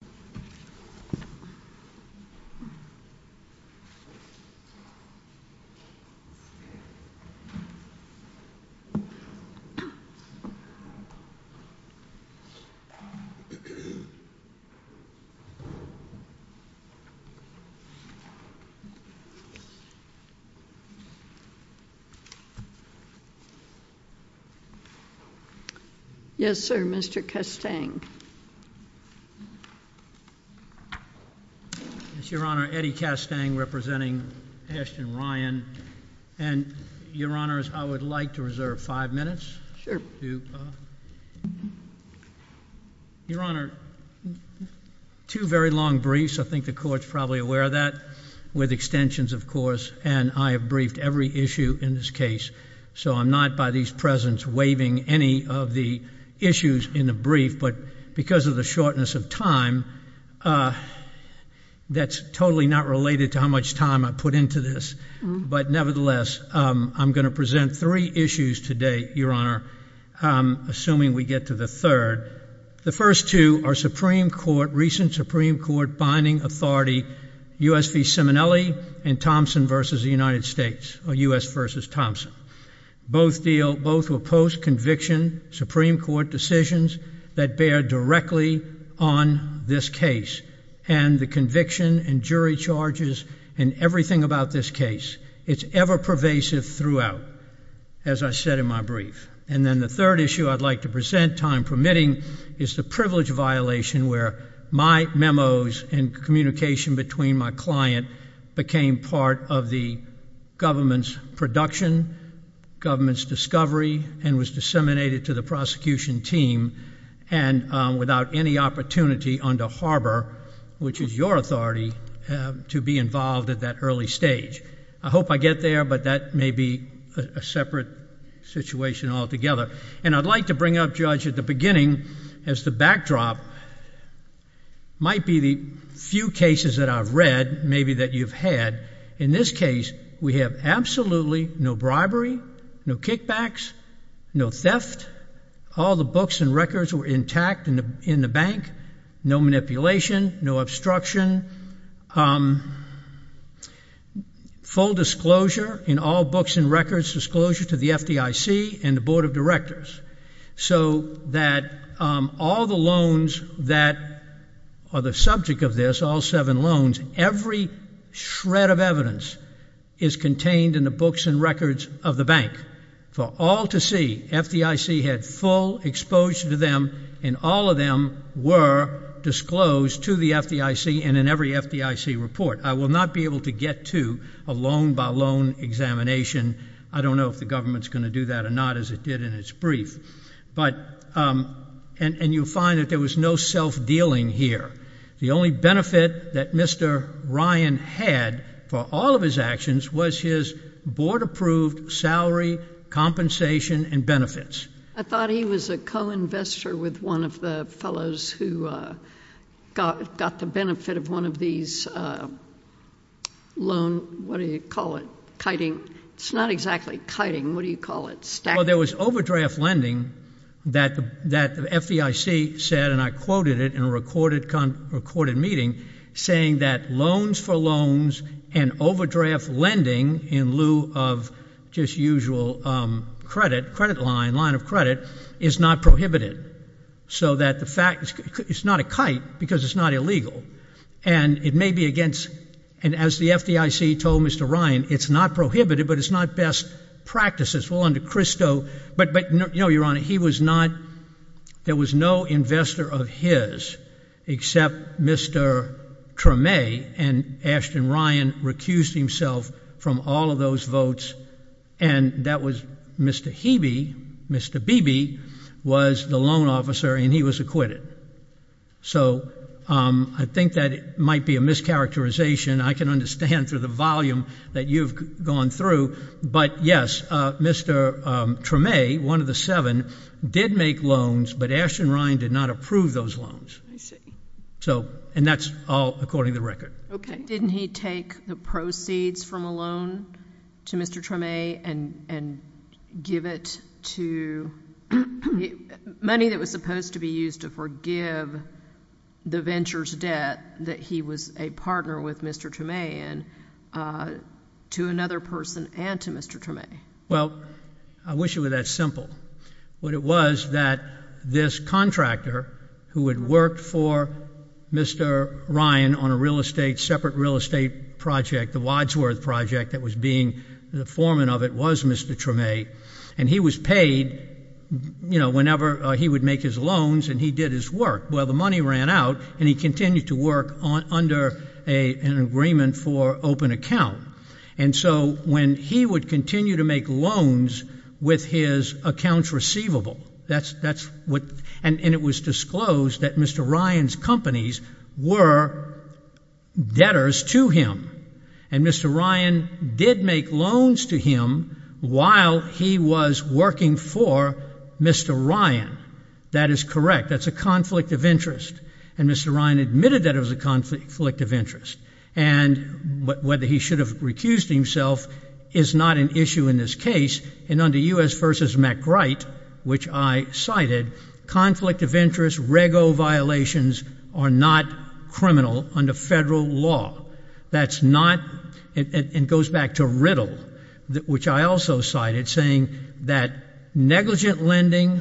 Someone from the legislative session will take question at this time. Your Honor, two very long briefs, I think the court's probably aware of that, with extensions of course, and I have briefed every issue in this case, so I'm not by these Presidents waiving any of the issues in the brief, but because of the shortness of time, that's totally not related to how much time I put into this, but nevertheless, I'm going to present three issues today, Your Honor, assuming we get to the third. The first two are Supreme Court, recent Supreme Court binding authority, U.S. v. Simonelli and Thompson v. the United States, or U.S. v. Thompson. Both were post-conviction Supreme Court decisions that bear directly on this case, and the conviction and jury charges and everything about this case, it's ever pervasive throughout, as I said in my brief. And then the third issue I'd like to present, time permitting, is the privilege violation where my memos and communication between my client became part of the government's production, government's discovery, and was disseminated to the prosecution team and without any opportunity under Harbor, which is your authority, to be involved at that early stage. I hope I get there, but that may be a separate situation altogether. And I'd like to bring up, Judge, at the beginning, as the backdrop, might be the few cases that I've read, maybe that you've had. In this case, we have absolutely no bribery, no kickbacks, no theft, all the books and records were intact in the bank, no manipulation, no obstruction, full disclosure in all books and records, disclosure to the FDIC and the Board of Directors. So that all the loans that are the subject of this, all seven loans, every shred of evidence is contained in the books and records of the bank. For all to see, FDIC had full exposure to them, and all of them were disclosed to the FDIC and in every FDIC report. I will not be able to get to a loan-by-loan examination. I don't know if the government's going to do that or not, as it did in its brief. And you'll find that there was no self-dealing here. The only benefit that Mr. Ryan had for all of his actions was his board-approved salary, compensation, and benefits. I thought he was a co-investor with one of the fellows who got the benefit of one of these loan, what do you call it, kiting? It's not exactly kiting. What do you call it? Well, there was overdraft lending that the FDIC said, and I quoted it in a recorded meeting, saying that loans for loans and overdraft lending in lieu of just usual credit, credit line, line of credit, is not prohibited. So that the fact, it's not a kite because it's not illegal. And it may be against, and as the FDIC told Mr. Ryan, it's not prohibited, but it's not best practices. Well, under CRISTO, but you know, Your Honor, he was not, there was no investor of his except Mr. Treme and Ashton Ryan recused himself from all of those votes, and that was Mr. Hebe, Mr. Beebe, was the loan officer, and he was acquitted. So, I think that it might be a mischaracterization. I can understand through the volume that you've gone through, but yes, Mr. Treme, one of the seven, did make loans, but Ashton Ryan did not approve those loans. I see. So, and that's all according to the record. Okay. Didn't he take the proceeds from a loan to Mr. Treme and give it to, money that was supposed to be used to forgive the venture's debt, that he was a partner with Mr. Treme, and to another person and to Mr. Treme? Well, I wish it were that simple, but it was that this contractor who had worked for Mr. Ryan on a real estate, separate real estate project, the Wadsworth project that was being The foreman of it was Mr. Treme, and he was paid whenever he would make his loans and he did his work. Well, the money ran out, and he continued to work under an agreement for open account. And so, when he would continue to make loans with his accounts receivable, and it was disclosed that Mr. Ryan's companies were debtors to him. And Mr. Ryan did make loans to him while he was working for Mr. Ryan. That is correct. That's a conflict of interest. And Mr. Ryan admitted that it was a conflict of interest. And whether he should have recused himself is not an issue in this case. And under U.S. v. McWright, which I cited, conflict of interest, rego violations are not criminal under federal law. That's not, and it goes back to Riddle, which I also cited, saying that negligent lending,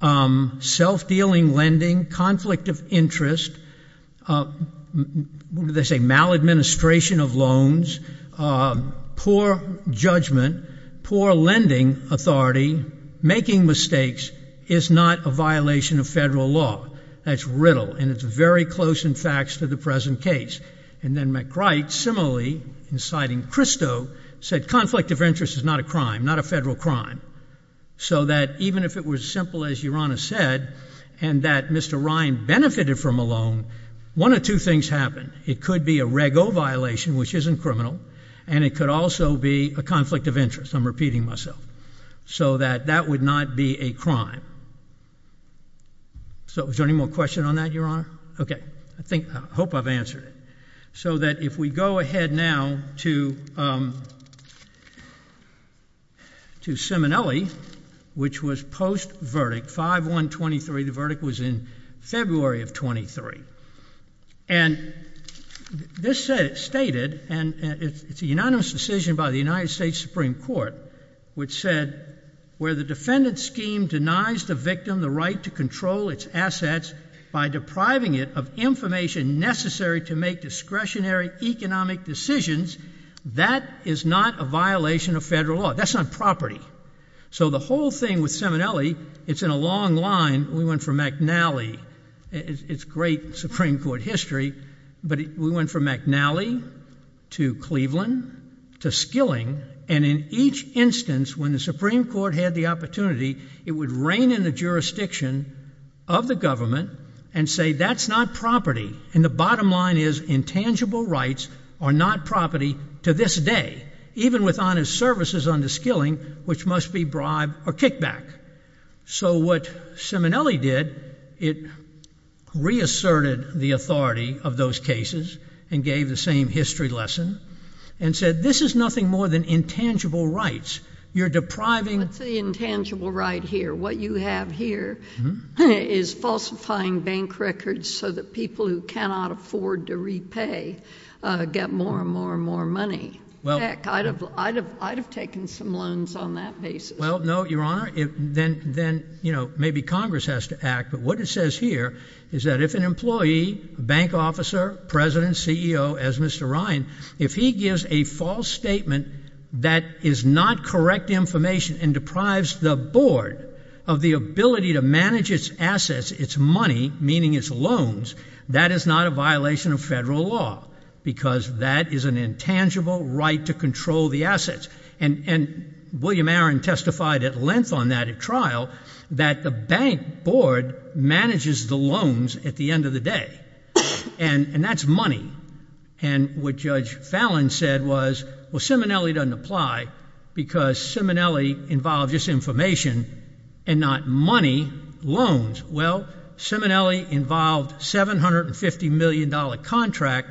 self-dealing lending, conflict of interest, they say maladministration of loans, poor judgment, poor lending authority, making mistakes is not a violation of federal law. That's Riddle, and it's very close in fact to the present case. And then McWright, similarly, inciting Christo, said conflict of interest is not a crime, not a federal crime. So that even if it was as simple as Your Honor said, and that Mr. Ryan benefited from a loan, one of two things happened. It could be a rego violation, which isn't criminal, and it could also be a conflict of interest. I'm repeating myself. So that that would not be a crime. So is there any more question on that, Your Honor? Okay. I think, I hope I've answered it. So that if we go ahead now to Simonelli, which was post-verdict, 5-1-23, the verdict was in February of 23. And this said, stated, and it's a unanimous decision by the United States Supreme Court, which said, where the defendant's scheme denies the victim the right to control its assets by depriving it of information necessary to make discretionary economic decisions, that is not a violation of federal law. That's on property. So the whole thing with Simonelli, it's in a long line. We went from McNally, it's great Supreme Court history, but we went from McNally to Cleveland to Skilling, and in each instance, when the Supreme Court had the opportunity, it would rein in the jurisdiction of the government and say, that's not property. And the bottom line is, intangible rights are not property to this day, even with honest services under Skilling, which must be bribed or kicked back. So what Simonelli did, it reasserted the authority of those cases and gave the same history lesson. And said, this is nothing more than intangible rights. You're depriving... What's the intangible right here? What you have here is falsifying bank records so that people who cannot afford to repay get more and more and more money. Heck, I'd have taken some loans on that basis. Well, no, Your Honor, then maybe Congress has to act. But what it says here is that if an employee, bank officer, president, CEO, as Mr. Ryan, if he gives a false statement that is not correct information and deprives the board of the ability to manage its assets, its money, meaning its loans, that is not a violation of federal law, because that is an intangible right to control the assets. And William Aron testified at length on that at trial, that the bank board manages the loans at the end of the day, and that's money. And what Judge Fallon said was, well, Simonelli doesn't apply because Simonelli involved just information and not money, loans. Well, Simonelli involved $750 million contract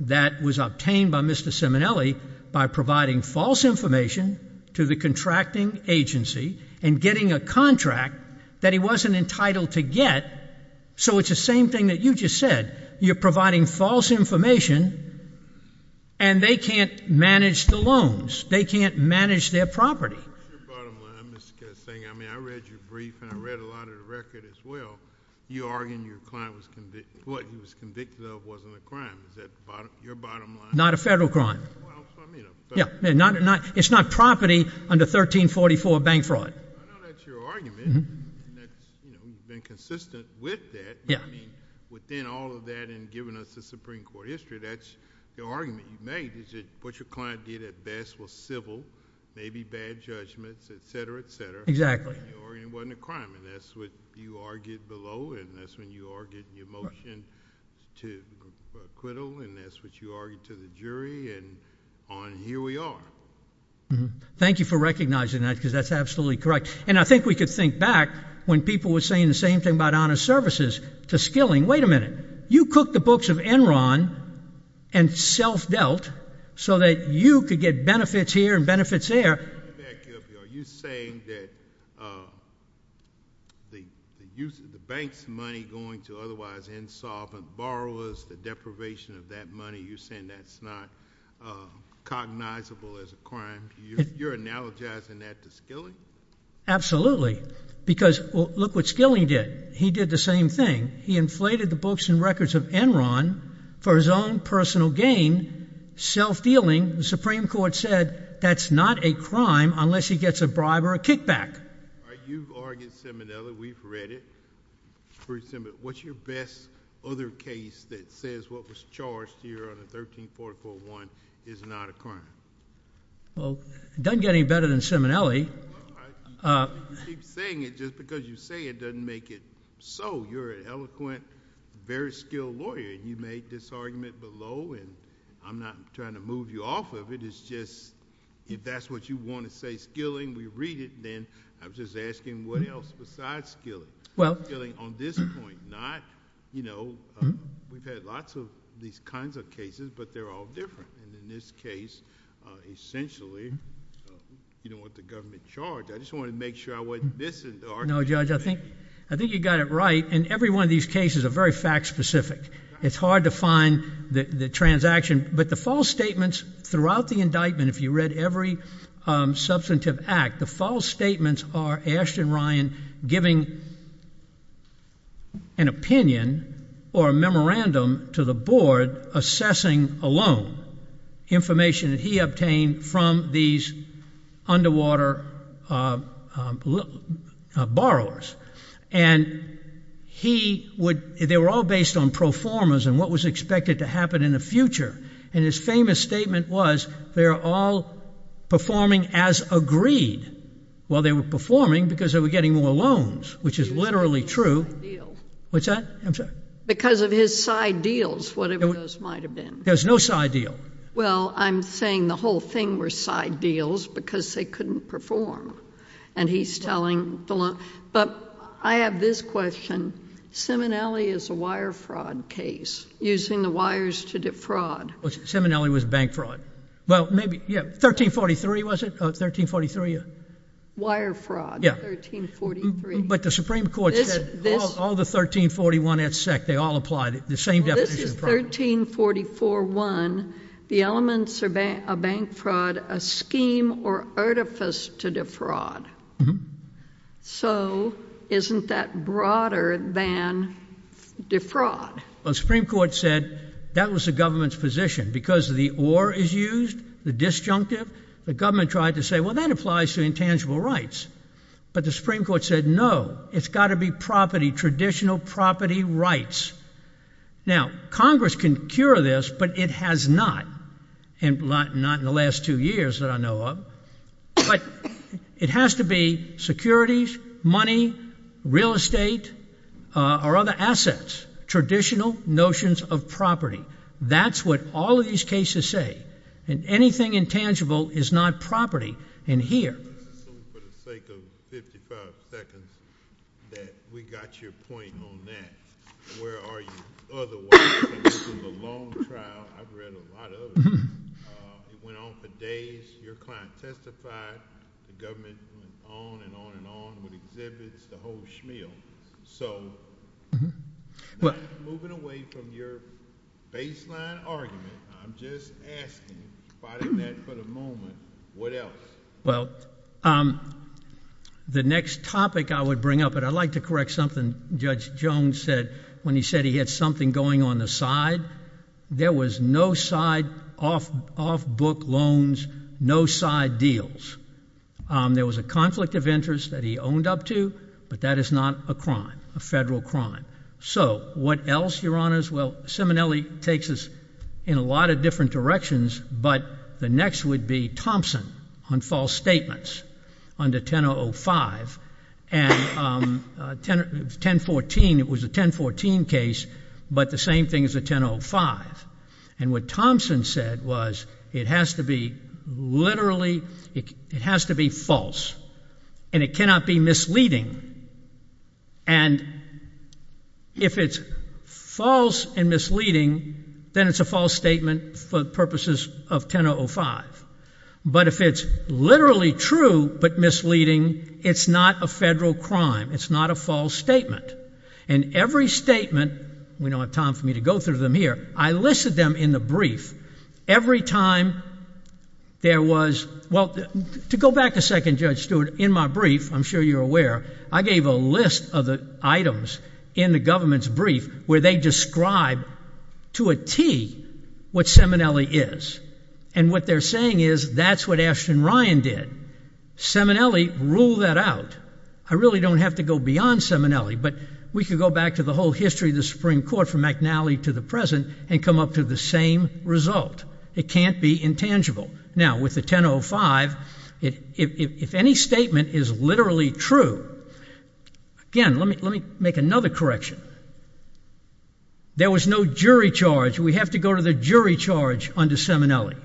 that was obtained by Mr. Simonelli by providing false information to the contracting agency and getting a contract that he wasn't entitled to get. So it's the same thing that you just said. You're providing false information, and they can't manage the loans. They can't manage their property. Your bottom line is saying, I mean, I read your brief, and I read a lot of the record as well. You're arguing what your client was convicted of wasn't a crime. Is that your bottom line? Not a federal crime. Well, so I mean a federal crime. Yeah, it's not property under 1344 bank fraud. I know that's your argument, and that you've been consistent with that. Yeah. But I mean, within all of that and giving us the Supreme Court history, that's the argument you've made, is that what your client did at best was civil, maybe bad judgments, et cetera, et cetera. Exactly. And it wasn't a crime. And that's what you argued below, and that's when you argued your motion to acquittal, and that's what you argued to the jury, and on, and here we are. Mm-hmm. Thank you for recognizing that, because that's absolutely correct. And I think we could think back when people were saying the same thing about honest services to skilling. Wait a minute. You cooked the books of Enron and self-dealt so that you could get benefits here and benefits there. Back up here. Are you saying that the use of the bank's money going to otherwise insolvent borrowers, the deprivation of that money, you're saying that's not cognizable as a crime? You're analogizing that to skilling? Absolutely. Because look what skilling did. He did the same thing. He inflated the books and records of Enron for his own personal gain, self-dealing. The Supreme Court said that's not a crime unless he gets a bribe or a kickback. All right. You've argued Seminelli. We've read it. What's your best other case that says what was charged here under 13441 is not a crime? Well, it doesn't get any better than Seminelli. Well, you keep saying it just because you say it doesn't make it so. You're an eloquent, very skilled lawyer. And you made this argument below. And I'm not trying to move you off of it. It's just if that's what you want to say, skilling, we read it. Then I'm just asking what else besides skilling? Well, skilling on this point, not, you know, we've had lots of these kinds of cases, but they're all different. And in this case, essentially, you don't want the government charged. I just wanted to make sure I wasn't missing the argument. No, Judge, I think you got it right. And every one of these cases are very fact-specific. It's hard to find the transaction. But the false statements throughout the indictment, if you read every substantive act, the false statements are Ashton Ryan giving an opinion or a memorandum to the board assessing a loan, information that he obtained from these underwater borrowers. And they were all based on pro formas and what was expected to happen in the future. And his famous statement was, they're all performing as agreed. Well, they were performing because they were getting more loans, which is literally true. What's that? I'm sorry. Because of his side deals, whatever those might have been. There's no side deal. Well, I'm saying the whole thing were side deals because they couldn't perform. And he's telling the law. But I have this question. Seminelli is a wire fraud case, using the wires to defraud. Seminelli was bank fraud. Well, maybe. Yeah. 1343, was it? Oh, 1343, yeah. Wire fraud. Yeah. 1343. But the Supreme Court said all the 1341 et sec. They all applied it. This is 1344 one. The elements are bank fraud, a scheme or artifice to defraud. So isn't that broader than defraud? Well, the Supreme Court said that was the government's position. Because the or is used, the disjunctive. The government tried to say, well, that applies to intangible rights. But the Supreme Court said, no, it's got to be property, traditional property rights. Now, Congress can cure this, but it has not. And not in the last two years that I know of. But it has to be securities, money, real estate, or other assets. Traditional notions of property. That's what all of these cases say. And anything intangible is not property in here. Let's assume for the sake of 55 seconds that we got your point on that. Where are you? Otherwise, this is a long trial. I've read a lot of it. It went on for days. Your client testified. The government went on and on and on with exhibits. The whole schmeal. So moving away from your baseline argument, I'm just asking, fighting that for the moment, what else? Well, the next topic I would bring up, and I'd like to correct something Judge Jones when he said he had something going on the side. There was no side, off book loans, no side deals. There was a conflict of interest that he owned up to, but that is not a crime, a federal crime. So what else, your honors? Well, Simonelli takes us in a lot of different directions, but the next would be Thompson on false statements under 1005. And 1014, it was a 1014 case, but the same thing as a 1005. And what Thompson said was, it has to be literally, it has to be false. And it cannot be misleading. And if it's false and misleading, then it's a false statement for purposes of 1005. But if it's literally true but misleading, it's not a federal crime. It's not a false statement. And every statement, we don't have time for me to go through them here. I listed them in the brief. Every time there was, well, to go back a second, Judge Stewart, in my brief, I'm sure you're aware, I gave a list of the items in the government's brief where they describe to a T what Simonelli is. And what they're saying is, that's what Ashton Ryan did. Simonelli ruled that out. I really don't have to go beyond Simonelli, but we could go back to the whole history of the Supreme Court from McNally to the present and come up to the same result. It can't be intangible. Now, with the 1005, if any statement is literally true, again, let me make another correction. There was no jury charge. We have to go to the jury charge under Simonelli.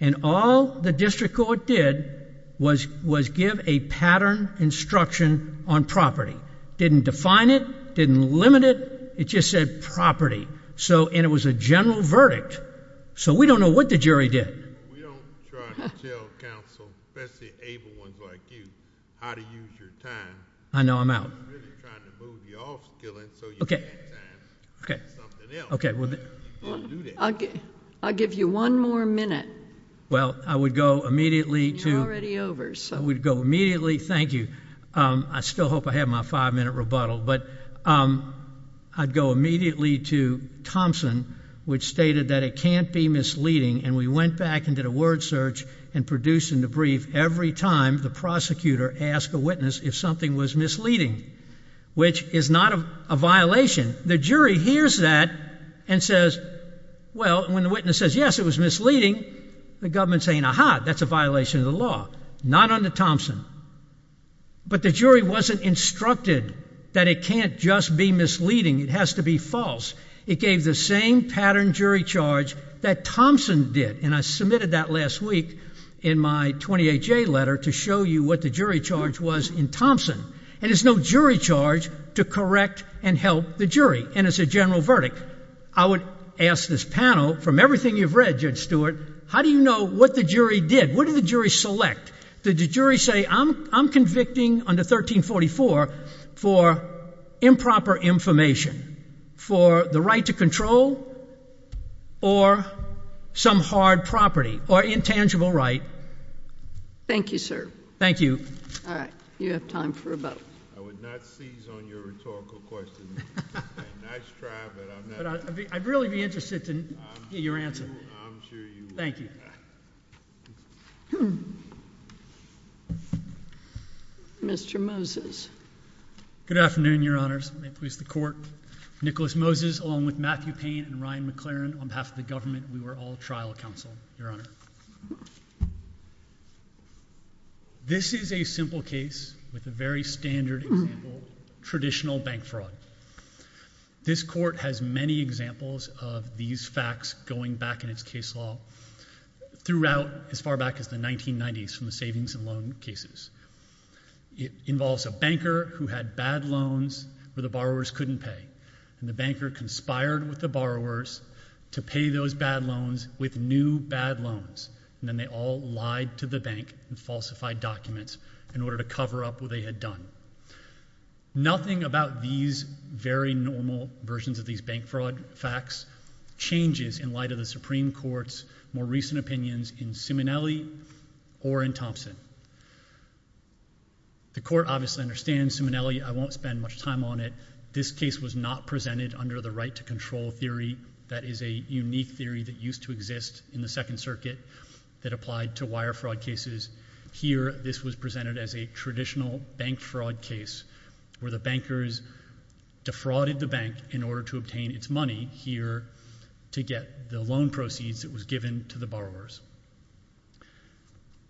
And all the district court did was give a pattern instruction on property. Didn't define it. Didn't limit it. It just said property. And it was a general verdict. So we don't know what the jury did. We don't try to tell counsel, especially able ones like you, how to use your time. I know. I'm out. We're really trying to move you off skilling so you can have time for something else. Well, I'll give you one more minute. Well, I would go immediately to— You're already over, so— I would go immediately—thank you. I still hope I have my five-minute rebuttal. But I'd go immediately to Thompson, which stated that it can't be misleading. And we went back and did a word search and produced in the brief every time the prosecutor asked a witness if something was misleading, which is not a violation. The jury hears that and says, well, when the witness says, yes, it was misleading, the government's saying, aha, that's a violation of the law. Not under Thompson. But the jury wasn't instructed that it can't just be misleading. It has to be false. It gave the same pattern jury charge that Thompson did. And I submitted that last week in my 28-J letter to show you what the jury charge was in Thompson. And there's no jury charge to correct and help the jury. And it's a general verdict. I would ask this panel, from everything you've read, Judge Stewart, how do you know what the jury did? What did the jury select? Did the jury say, I'm convicting under 1344 for improper information, for the right to control or some hard property or intangible right? Thank you, sir. Thank you. All right. You have time for a vote. I would not seize on your rhetorical question. A nice try, but I'm not. I'd really be interested to hear your answer. I'm sure you would. Thank you. Mr. Moses. Good afternoon, Your Honors. May it please the Court. Nicholas Moses, along with Matthew Payne and Ryan McLaren, on behalf of the government, we were all trial counsel, Your Honor. This is a simple case with a very standard example, traditional bank fraud. This Court has many examples of these facts going back in its case law throughout as far back as the 1990s from the savings and loan cases. It involves a banker who had bad loans where the borrowers couldn't pay. And the banker conspired with the borrowers to pay those bad loans with new bad loans. And then they all lied to the bank and falsified documents in order to cover up what they had done. Nothing about these very normal versions of these bank fraud facts changes in light of the Supreme Court's more recent opinions in Simonelli or in Thompson. The Court obviously understands Simonelli. I won't spend much time on it. This case was not presented under the right to control theory. That is a unique theory that used to exist in the Second Circuit that applied to wire fraud cases. Here, this was presented as a traditional bank fraud case where the bankers defrauded the bank in order to obtain its money here to get the loan proceeds that was given to the borrowers.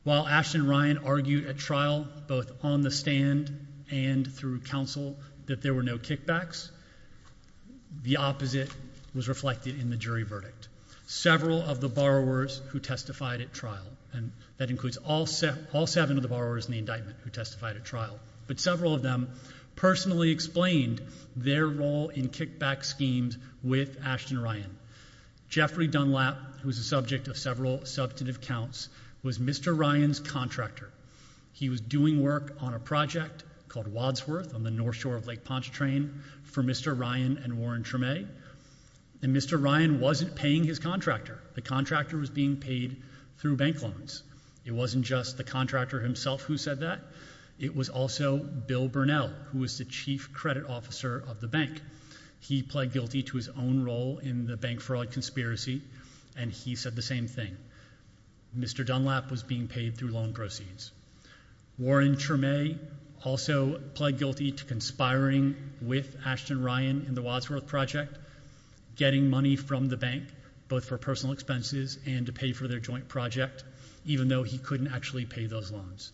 While Ashton and Ryan argued at trial, both on the stand and through counsel, that there was reflected in the jury verdict. Several of the borrowers who testified at trial, and that includes all seven of the borrowers in the indictment who testified at trial, but several of them personally explained their role in kickback schemes with Ashton and Ryan. Jeffrey Dunlap, who is the subject of several substantive counts, was Mr. Ryan's contractor. He was doing work on a project called Wadsworth on the north shore of Lake Pontchartrain for Mr. Ryan and Warren Tremay, and Mr. Ryan wasn't paying his contractor. The contractor was being paid through bank loans. It wasn't just the contractor himself who said that. It was also Bill Burnell, who was the chief credit officer of the bank. He pled guilty to his own role in the bank fraud conspiracy, and he said the same thing. Mr. Dunlap was being paid through loan proceeds. Warren Tremay also pled guilty to conspiring with Ashton and Ryan in the Wadsworth project, getting money from the bank, both for personal expenses and to pay for their joint project, even though he couldn't actually pay those loans.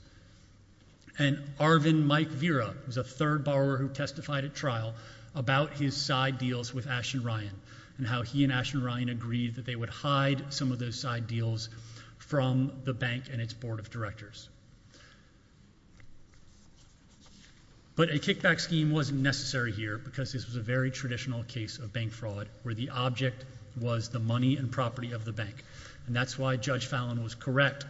And Arvin Mike Vera was a third borrower who testified at trial about his side deals with Ashton and Ryan, and how he and Ashton and Ryan agreed that they would hide some of those side deals from the bank and its board of directors. But a kickback scheme wasn't necessary here, because this was a very traditional case of bank fraud, where the object was the money and property of the bank, and that's why Judge Fallon was correct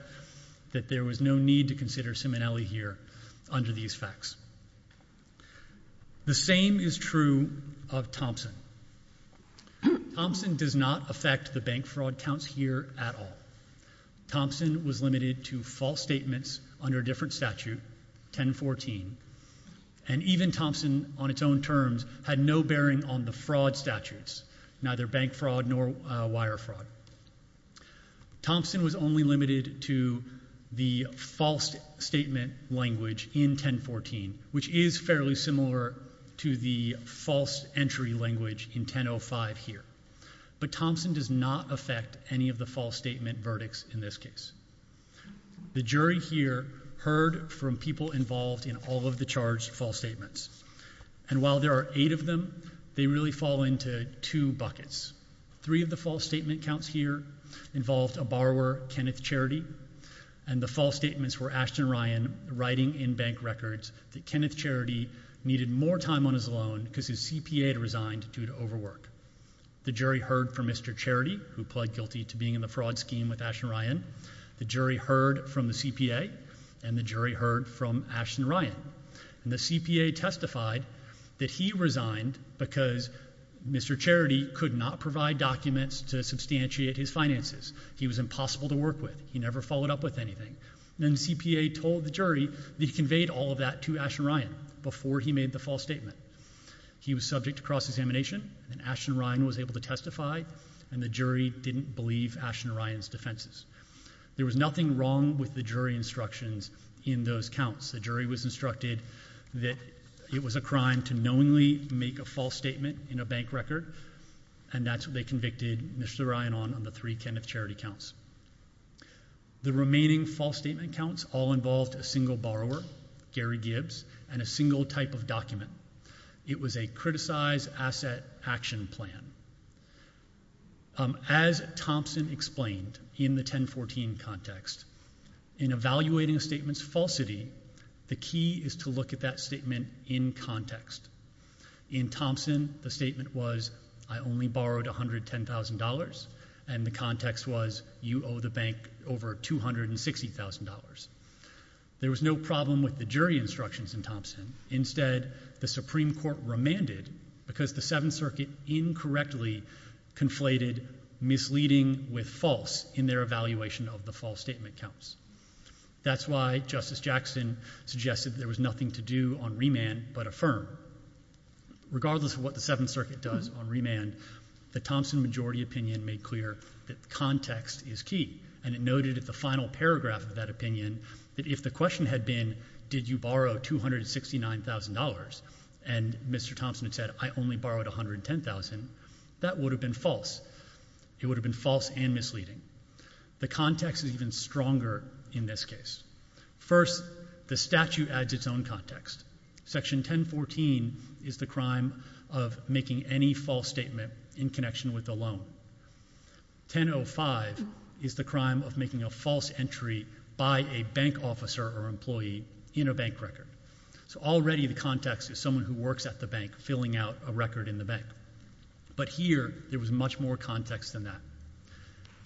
that there was no need to consider Simonelli here under these facts. The same is true of Thompson. Thompson does not affect the bank fraud counts here at all. Thompson was limited to false statements under a different statute, 1014, and even Thompson on its own terms had no bearing on the fraud statutes, neither bank fraud nor wire fraud. Thompson was only limited to the false statement language in 1014, which is fairly similar to the false entry language in 1005 here. But Thompson does not affect any of the false statement verdicts in this case. The jury here heard from people involved in all of the charged false statements, and while there are eight of them, they really fall into two buckets. Three of the false statement counts here involved a borrower, Kenneth Charity, and the false statements were Ashton and Ryan writing in bank records that Kenneth Charity needed more time on his loan because his CPA had resigned due to overwork. The jury heard from Mr. Charity, who pled guilty to being in the fraud scheme with Ashton and Ryan. The jury heard from the CPA, and the jury heard from Ashton and Ryan, and the CPA testified that he resigned because Mr. Charity could not provide documents to substantiate his finances. He was impossible to work with. He never followed up with anything. And then the CPA told the jury that he conveyed all of that to Ashton and Ryan before he made the false statement. He was subject to cross-examination, and Ashton and Ryan was able to testify, and the jury didn't believe Ashton and Ryan's defenses. There was nothing wrong with the jury instructions in those counts. The jury was instructed that it was a crime to knowingly make a false statement in a bank record, and that's what they convicted Mr. Ryan on, on the three Kenneth Charity counts. The remaining false statement counts all involved a single borrower, Gary Gibbs, and a single type of document. It was a criticized asset action plan. As Thompson explained in the 1014 context, in evaluating a statement's falsity, the key is to look at that statement in context. In Thompson, the statement was, I only borrowed $110,000, and the context was, you owe the bank over $260,000. There was no problem with the jury instructions in Thompson. Instead, the Supreme Court remanded because the Seventh Circuit incorrectly conflated misleading with false in their evaluation of the false statement counts. That's why Justice Jackson suggested there was nothing to do on remand but affirm. Regardless of what the Seventh Circuit does on remand, the Thompson majority opinion made clear that context is key, and it noted at the final paragraph of that opinion that if the question had been, did you borrow $269,000, and Mr. Thompson had said, I only borrowed $110,000, that would have been false. It would have been false and misleading. The context is even stronger in this case. First, the statute adds its own context. Section 1014 is the crime of making any false statement in connection with a loan. 1005 is the crime of making a false entry by a bank officer or employee in a bank record. So already the context is someone who works at the bank filling out a record in the bank. But here, there was much more context than that.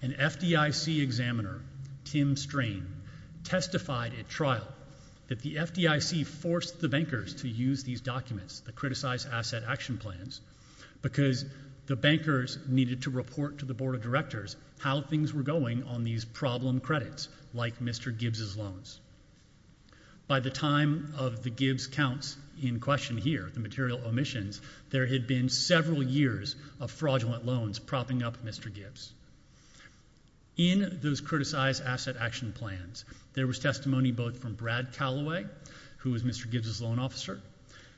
An FDIC examiner, Tim Strain, testified at trial that the FDIC forced the bankers to use these documents, the Criticized Asset Action Plans, because the bankers needed to report to the Board of Directors how things were going on these problem credits, like Mr. Gibbs's loans. By the time of the Gibbs counts in question here, the material omissions, there had been several years of fraudulent loans propping up Mr. Gibbs. In those Criticized Asset Action Plans, there was testimony both from Brad Calloway, who was Mr. Gibbs's loan officer,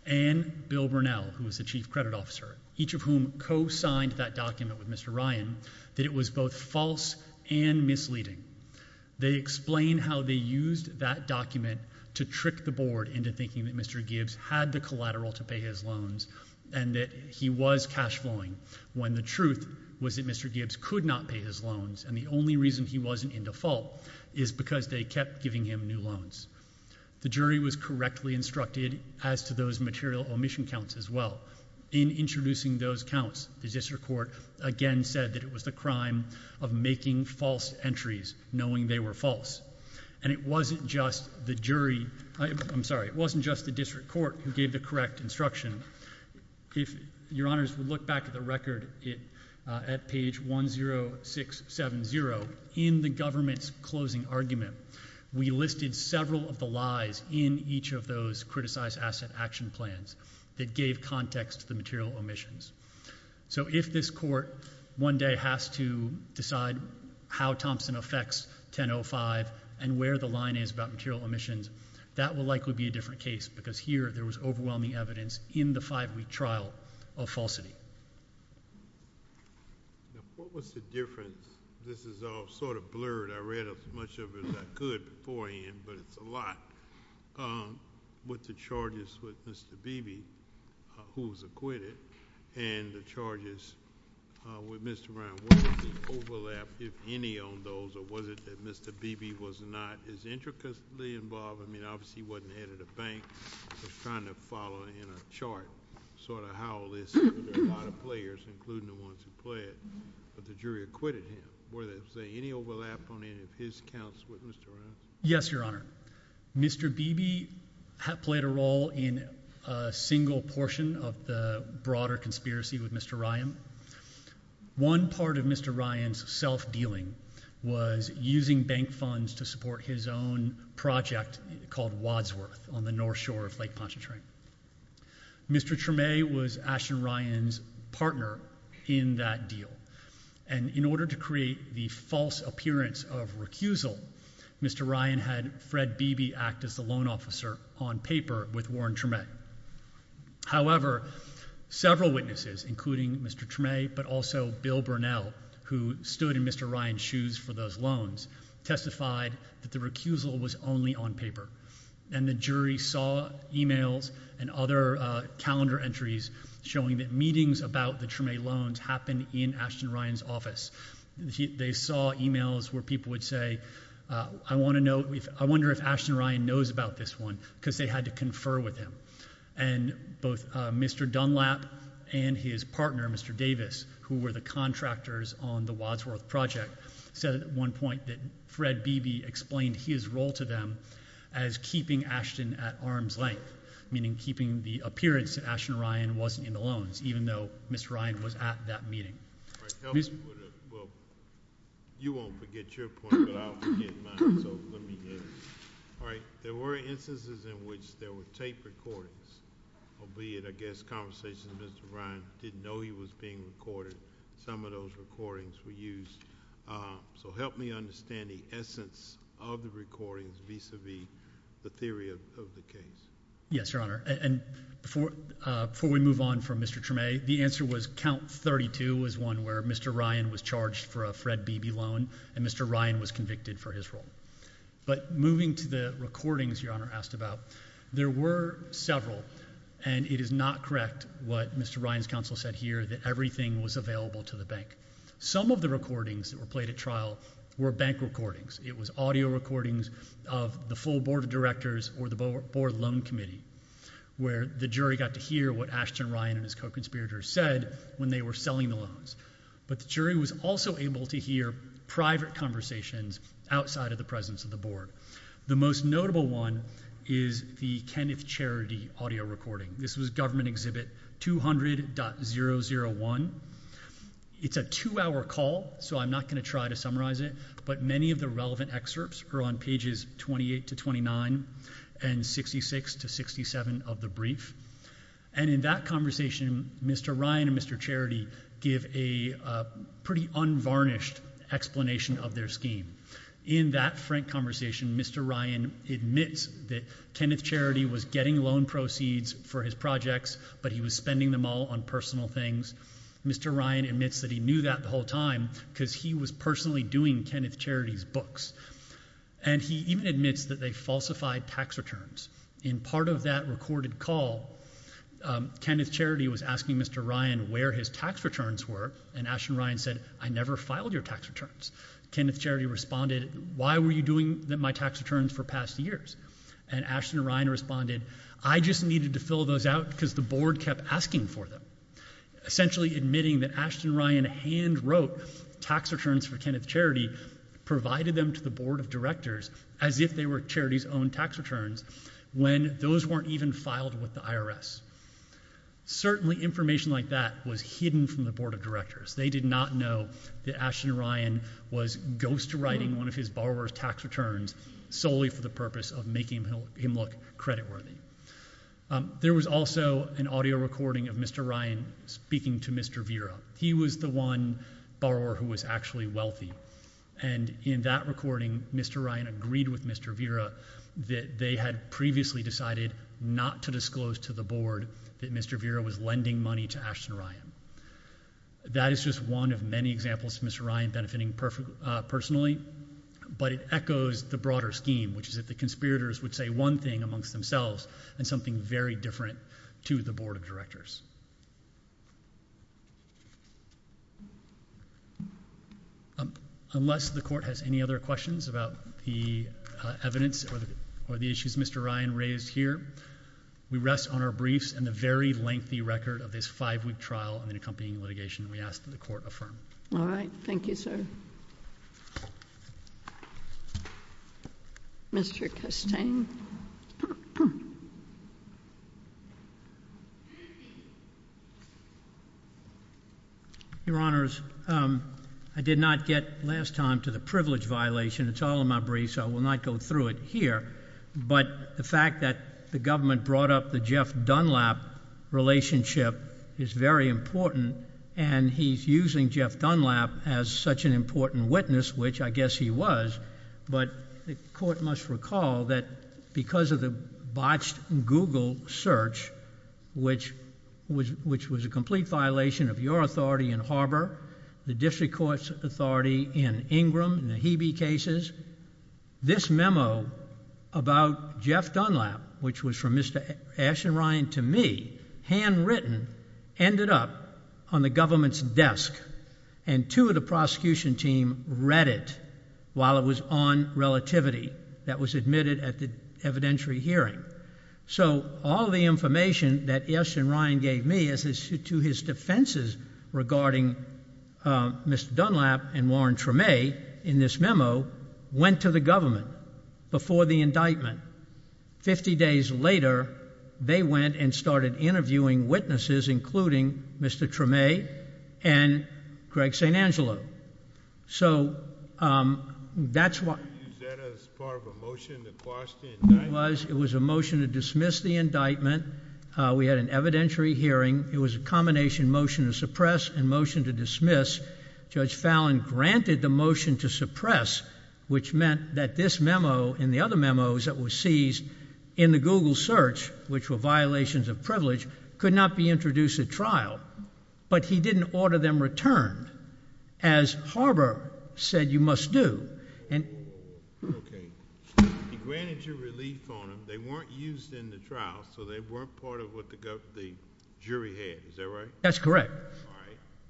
and Bill Burnell, who was the chief credit officer, each of whom co-signed that document with Mr. Ryan, that it was both false and misleading. They explain how they used that document to trick the Board into thinking that Mr. Gibbs had the collateral to pay his loans and that he was cash flowing, when the truth was that Mr. Gibbs could not pay his loans, and the only reason he wasn't in default is because they kept giving him new loans. The jury was correctly instructed as to those material omission counts as well. In introducing those counts, the district court again said that it was the crime of making false entries, knowing they were false. And it wasn't just the jury, I'm sorry, it wasn't just the district court who gave the correct instruction. If your honors would look back at the record at page 10670, in the government's closing argument, we listed several of the lies in each of those Criticized Asset Action Plans that gave context to the material omissions. So if this court one day has to decide how Thompson affects 1005 and where the line is about material omissions, that will likely be a different case, because here there was overwhelming evidence in the five-week trial of falsity. What was the difference, this is all sort of blurred, I read as much of it as I could beforehand, but it's a lot, with the charges with Mr. Beebe, who was acquitted, and the charges with Mr. Brown. Was there an overlap, if any, on those, or was it that Mr. Beebe was not as intricately involved, I mean obviously he wasn't head of the bank, he was trying to follow in a chart sort of how this, there were a lot of players, including the ones who pled, but the jury acquitted him. Was there any overlap on any of his counts with Mr. Ryan? Yes, your honor. Mr. Beebe played a role in a single portion of the broader conspiracy with Mr. Ryan. One part of Mr. Ryan's self-dealing was using bank funds to support his own project called Wadsworth on the north shore of Lake Pontchartrain. Mr. Tremay was Ashton Ryan's partner in that deal, and in order to create the false appearance of recusal, Mr. Ryan had Fred Beebe act as the loan officer on paper with Warren Tremay. However, several witnesses, including Mr. Tremay, but also Bill Burnell, who stood in Mr. Ryan's shoes for those loans, testified that the recusal was only on paper, and the jury saw emails and other calendar entries showing that meetings about the Tremay loans happened in Ashton Ryan's office. They saw emails where people would say, I want to know, I wonder if Ashton Ryan knows about this one, because they had to confer with him. And both Mr. Dunlap and his partner, Mr. Davis, who were the contractors on the Wadsworth project, said at one point that Fred Beebe explained his role to them as keeping Ashton at arm's length, meaning keeping the appearance that Ashton Ryan wasn't in the loans, even though Mr. Ryan was at that meeting. All right, help me with it. Well, you won't forget your point, but I'll forget mine, so let me hear it. All right, there were instances in which there were tape recordings, albeit, I guess, conversations that Mr. Ryan didn't know he was being recorded. Some of those recordings were used, so help me understand the essence of the recordings vis-a-vis the theory of the case. Yes, Your Honor, and before we move on from Mr. Tremay, the answer was count 32 was one where Mr. Ryan was charged for a Fred Beebe loan, and Mr. Ryan was convicted for his role. But moving to the recordings Your Honor asked about, there were several, and it is not correct what Mr. Ryan's counsel said here, that everything was available to the bank. Some of the recordings that were played at trial were bank recordings. It was audio recordings of the full board of directors or the board loan committee, where the jury got to hear what Ashton Ryan and his co-conspirators said when they were But the jury was also able to hear private conversations outside of the presence of the board. The most notable one is the Kenneth Charity audio recording. This was Government Exhibit 200.001. It's a two-hour call, so I'm not going to try to summarize it, but many of the relevant excerpts are on pages 28 to 29 and 66 to 67 of the brief, and in that conversation Mr. Ryan and Mr. Charity give a pretty unvarnished explanation of their scheme. In that frank conversation Mr. Ryan admits that Kenneth Charity was getting loan proceeds for his projects, but he was spending them all on personal things. Mr. Ryan admits that he knew that the whole time because he was personally doing Kenneth Charity's books, and he even admits that they falsified tax returns. In part of that recorded call, Kenneth Charity was asking Mr. Ryan where his tax returns were, and Ashton Ryan said, I never filed your tax returns. Kenneth Charity responded, why were you doing my tax returns for past years? And Ashton Ryan responded, I just needed to fill those out because the board kept asking for them. Essentially admitting that Ashton Ryan hand-wrote tax returns for Kenneth Charity, provided them to the board of directors as if they were Charity's own tax returns when those weren't even filed with the IRS. Certainly information like that was hidden from the board of directors. They did not know that Ashton Ryan was ghostwriting one of his borrower's tax returns solely for the purpose of making him look credit worthy. There was also an audio recording of Mr. Ryan speaking to Mr. Vera. He was the one borrower who was actually wealthy, and in that recording, Mr. Ryan agreed with Mr. Vera that they had previously decided not to disclose to the board that Mr. Vera was lending money to Ashton Ryan. That is just one of many examples of Mr. Ryan benefiting personally, but it echoes the broader scheme, which is that the conspirators would say one thing amongst themselves and something very different to the board of directors. Unless the court has any other questions about the evidence or the issues Mr. Ryan raised here, we rest on our briefs and the very lengthy record of this five-week trial and the accompanying litigation. We ask that the court affirm. All right. Thank you, sir. Mr. Custain. Your Honors, I did not get last time to the privilege violation. It's all in my briefs, so I will not go through it here, but the fact that the government brought up the Jeff Dunlap relationship is very important, and he's using Jeff Dunlap as such an important witness, which I guess he was, but the court must recall that because of the botched Google search, which was a complete violation of your authority in Harbor, the district court's authority in Ingram and the Hebe cases, this memo about Jeff Dunlap, which was from Mr. Ashton Ryan to me, handwritten, ended up on the government's desk, and two of the prosecution team read it while it was on relativity. That was admitted at the evidentiary hearing, so all the information that Ashton Ryan gave me as to his defenses regarding Mr. Dunlap and Warren Tremay in this memo went to the government before the indictment. Fifty days later, they went and started interviewing witnesses, including Mr. Tremay and Greg St. Angelo, so that's why... Was that as part of a motion to quash the indictment? It was. It was a motion to dismiss the indictment. We had an evidentiary hearing. It was a combination motion to suppress and motion to dismiss. Judge Fallon granted the motion to suppress, which meant that this memo and the other memos that were seized in the Google search, which were violations of privilege, could not be introduced at trial, but he didn't order them returned, as Harbor said you must do. Okay. He granted you relief on them. They weren't used in the trial, so they weren't part of what the jury had. Is that right? That's correct.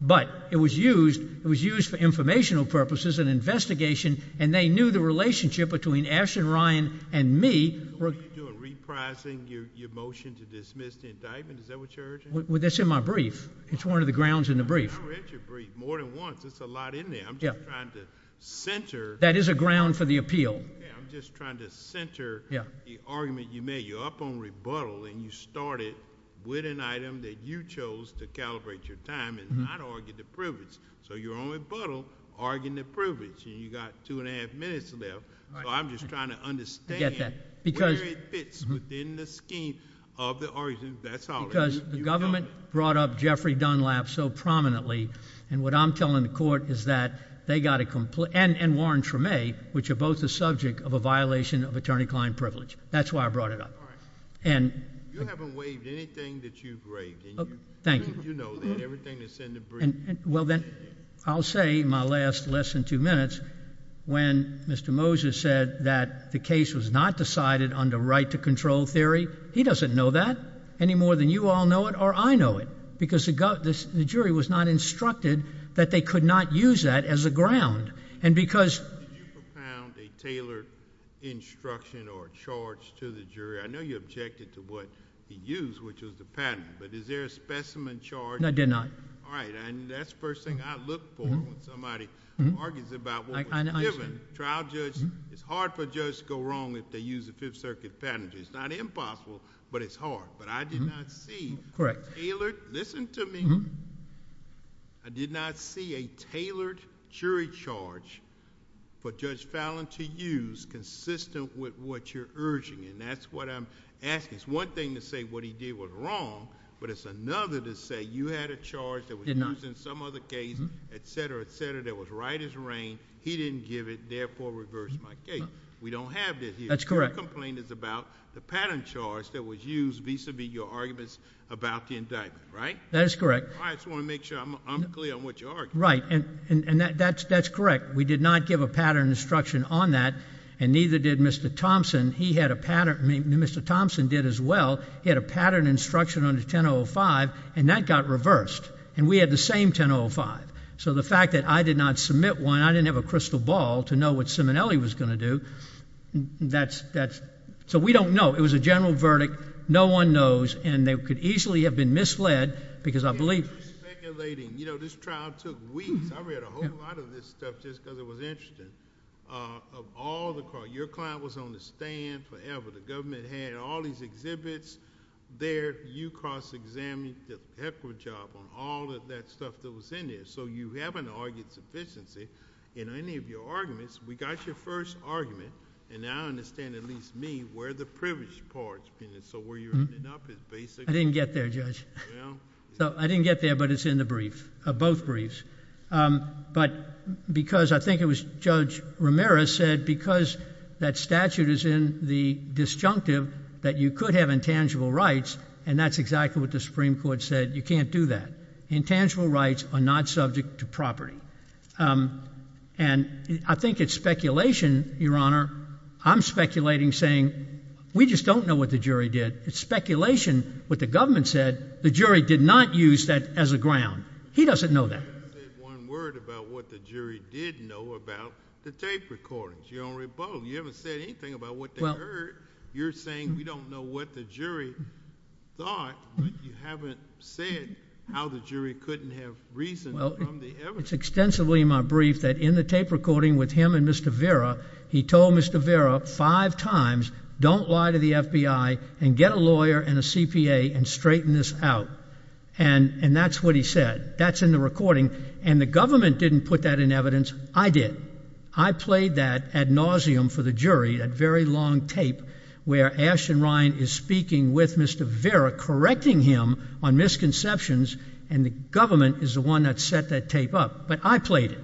But it was used for informational purposes, an investigation, and they knew the relationship between Ashton Ryan and me... Were you reprising your motion to dismiss the indictment? Is that what you're urging? That's in my brief. It's one of the grounds in the brief. I read your brief more than once. It's a lot in there. I'm just trying to center... That is a ground for the appeal. I'm just trying to center the argument you made. You're up on rebuttal, and you started with an item that you chose to calibrate your time and not argue the privilege. So you're on rebuttal, arguing the privilege, and you've got two and a half minutes left. I'm just trying to understand where it fits within the scheme of the argument. That's all. Because the government brought up Jeffrey Dunlap so prominently, and what I'm telling the court is that they got a... and Warren Tremé, which are both the subject of a violation of attorney-client privilege. That's why I brought it up. All right. And... You haven't waived anything that you've waived, and you... Thank you.... you know that. Everything that's in the brief... Well, then, I'll say in my last less than two minutes, when Mr. Moses said that the case was not decided under right-to-control theory, he doesn't know that any more than you all know it or I know it. Because the jury was not instructed that they could not use that as a ground. And because... Did you propound a tailored instruction or charge to the jury? I know you objected to what he used, which was the patent, but is there a specimen charge? I did not. All right. And that's the first thing I look for when somebody argues about what was given. Trial judges, it's hard for a judge to go wrong if they use a Fifth Circuit patent. It's not impossible, but it's hard. But I did not see... Correct. Listen to me. I did not see a tailored jury charge for Judge Fallon to use consistent with what you're urging, and that's what I'm asking. It's one thing to say what he did was wrong, but it's another to say you had a charge... Did not.... that was used in some other case, etc., etc., that was right as rain. He didn't give it. Therefore, reverse my case. We don't have that here. That's correct. Your complaint is about the patent charge that was used vis-à-vis your arguments about the indictment, right? That is correct. I just want to make sure I'm clear on what you're arguing. Right. And that's correct. We did not give a patent instruction on that, and neither did Mr. Thompson. He had a patent... Mr. Thompson did as well. He had a patent instruction under 1005, and that got reversed. And we had the same 1005. So the fact that I did not submit one, I didn't have a crystal ball to know what Simonelli was going to do, that's... So we don't know. It was a general verdict. No one knows, and they could easily have been misled because I believe... You're speculating. You know, this trial took weeks. I read a whole lot of this stuff just because it was interesting. Of all the... Your client was on the stand forever. The government had all these exhibits there. You cross-examined the pepper job on all of that stuff that was in there. So you haven't argued sufficiency in any of your arguments. We got your first argument, and now I understand, at least me, where the privilege part... So where you're ending up is basically... I didn't get there, Judge. So I didn't get there, but it's in the brief, both briefs. But because I think it was Judge Romero said because that statute is in the disjunctive that you could have intangible rights, and that's exactly what the Supreme Court said, you can't do that. Intangible rights are not subject to property. And I think it's speculation, Your Honor. I'm speculating, saying we just don't know what the jury did. It's speculation. What the government said, the jury did not use that as a ground. He doesn't know that. You haven't said one word about what the jury did know about the tape recordings. You're on rebuttal. You haven't said anything about what they heard. You're saying we don't know what the jury thought, but you haven't said how the jury couldn't have reasoned from the evidence. It's extensively in my brief that in the tape recording with him and Mr. Vera, he told Mr. Vera five times, don't lie to the FBI and get a lawyer and a CPA and straighten this out. And that's what he said. That's in the recording. And the government didn't put that in evidence. I did. I played that ad nauseum for the jury, that very long tape where Ashton Ryan is speaking with Mr. Vera, correcting him on misconceptions, and the government is the one that set that tape up. But I played it.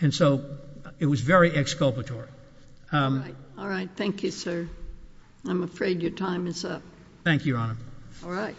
And so it was very exculpatory. All right. Thank you, sir. I'm afraid your time is up. Thank you, Your Honor. All right.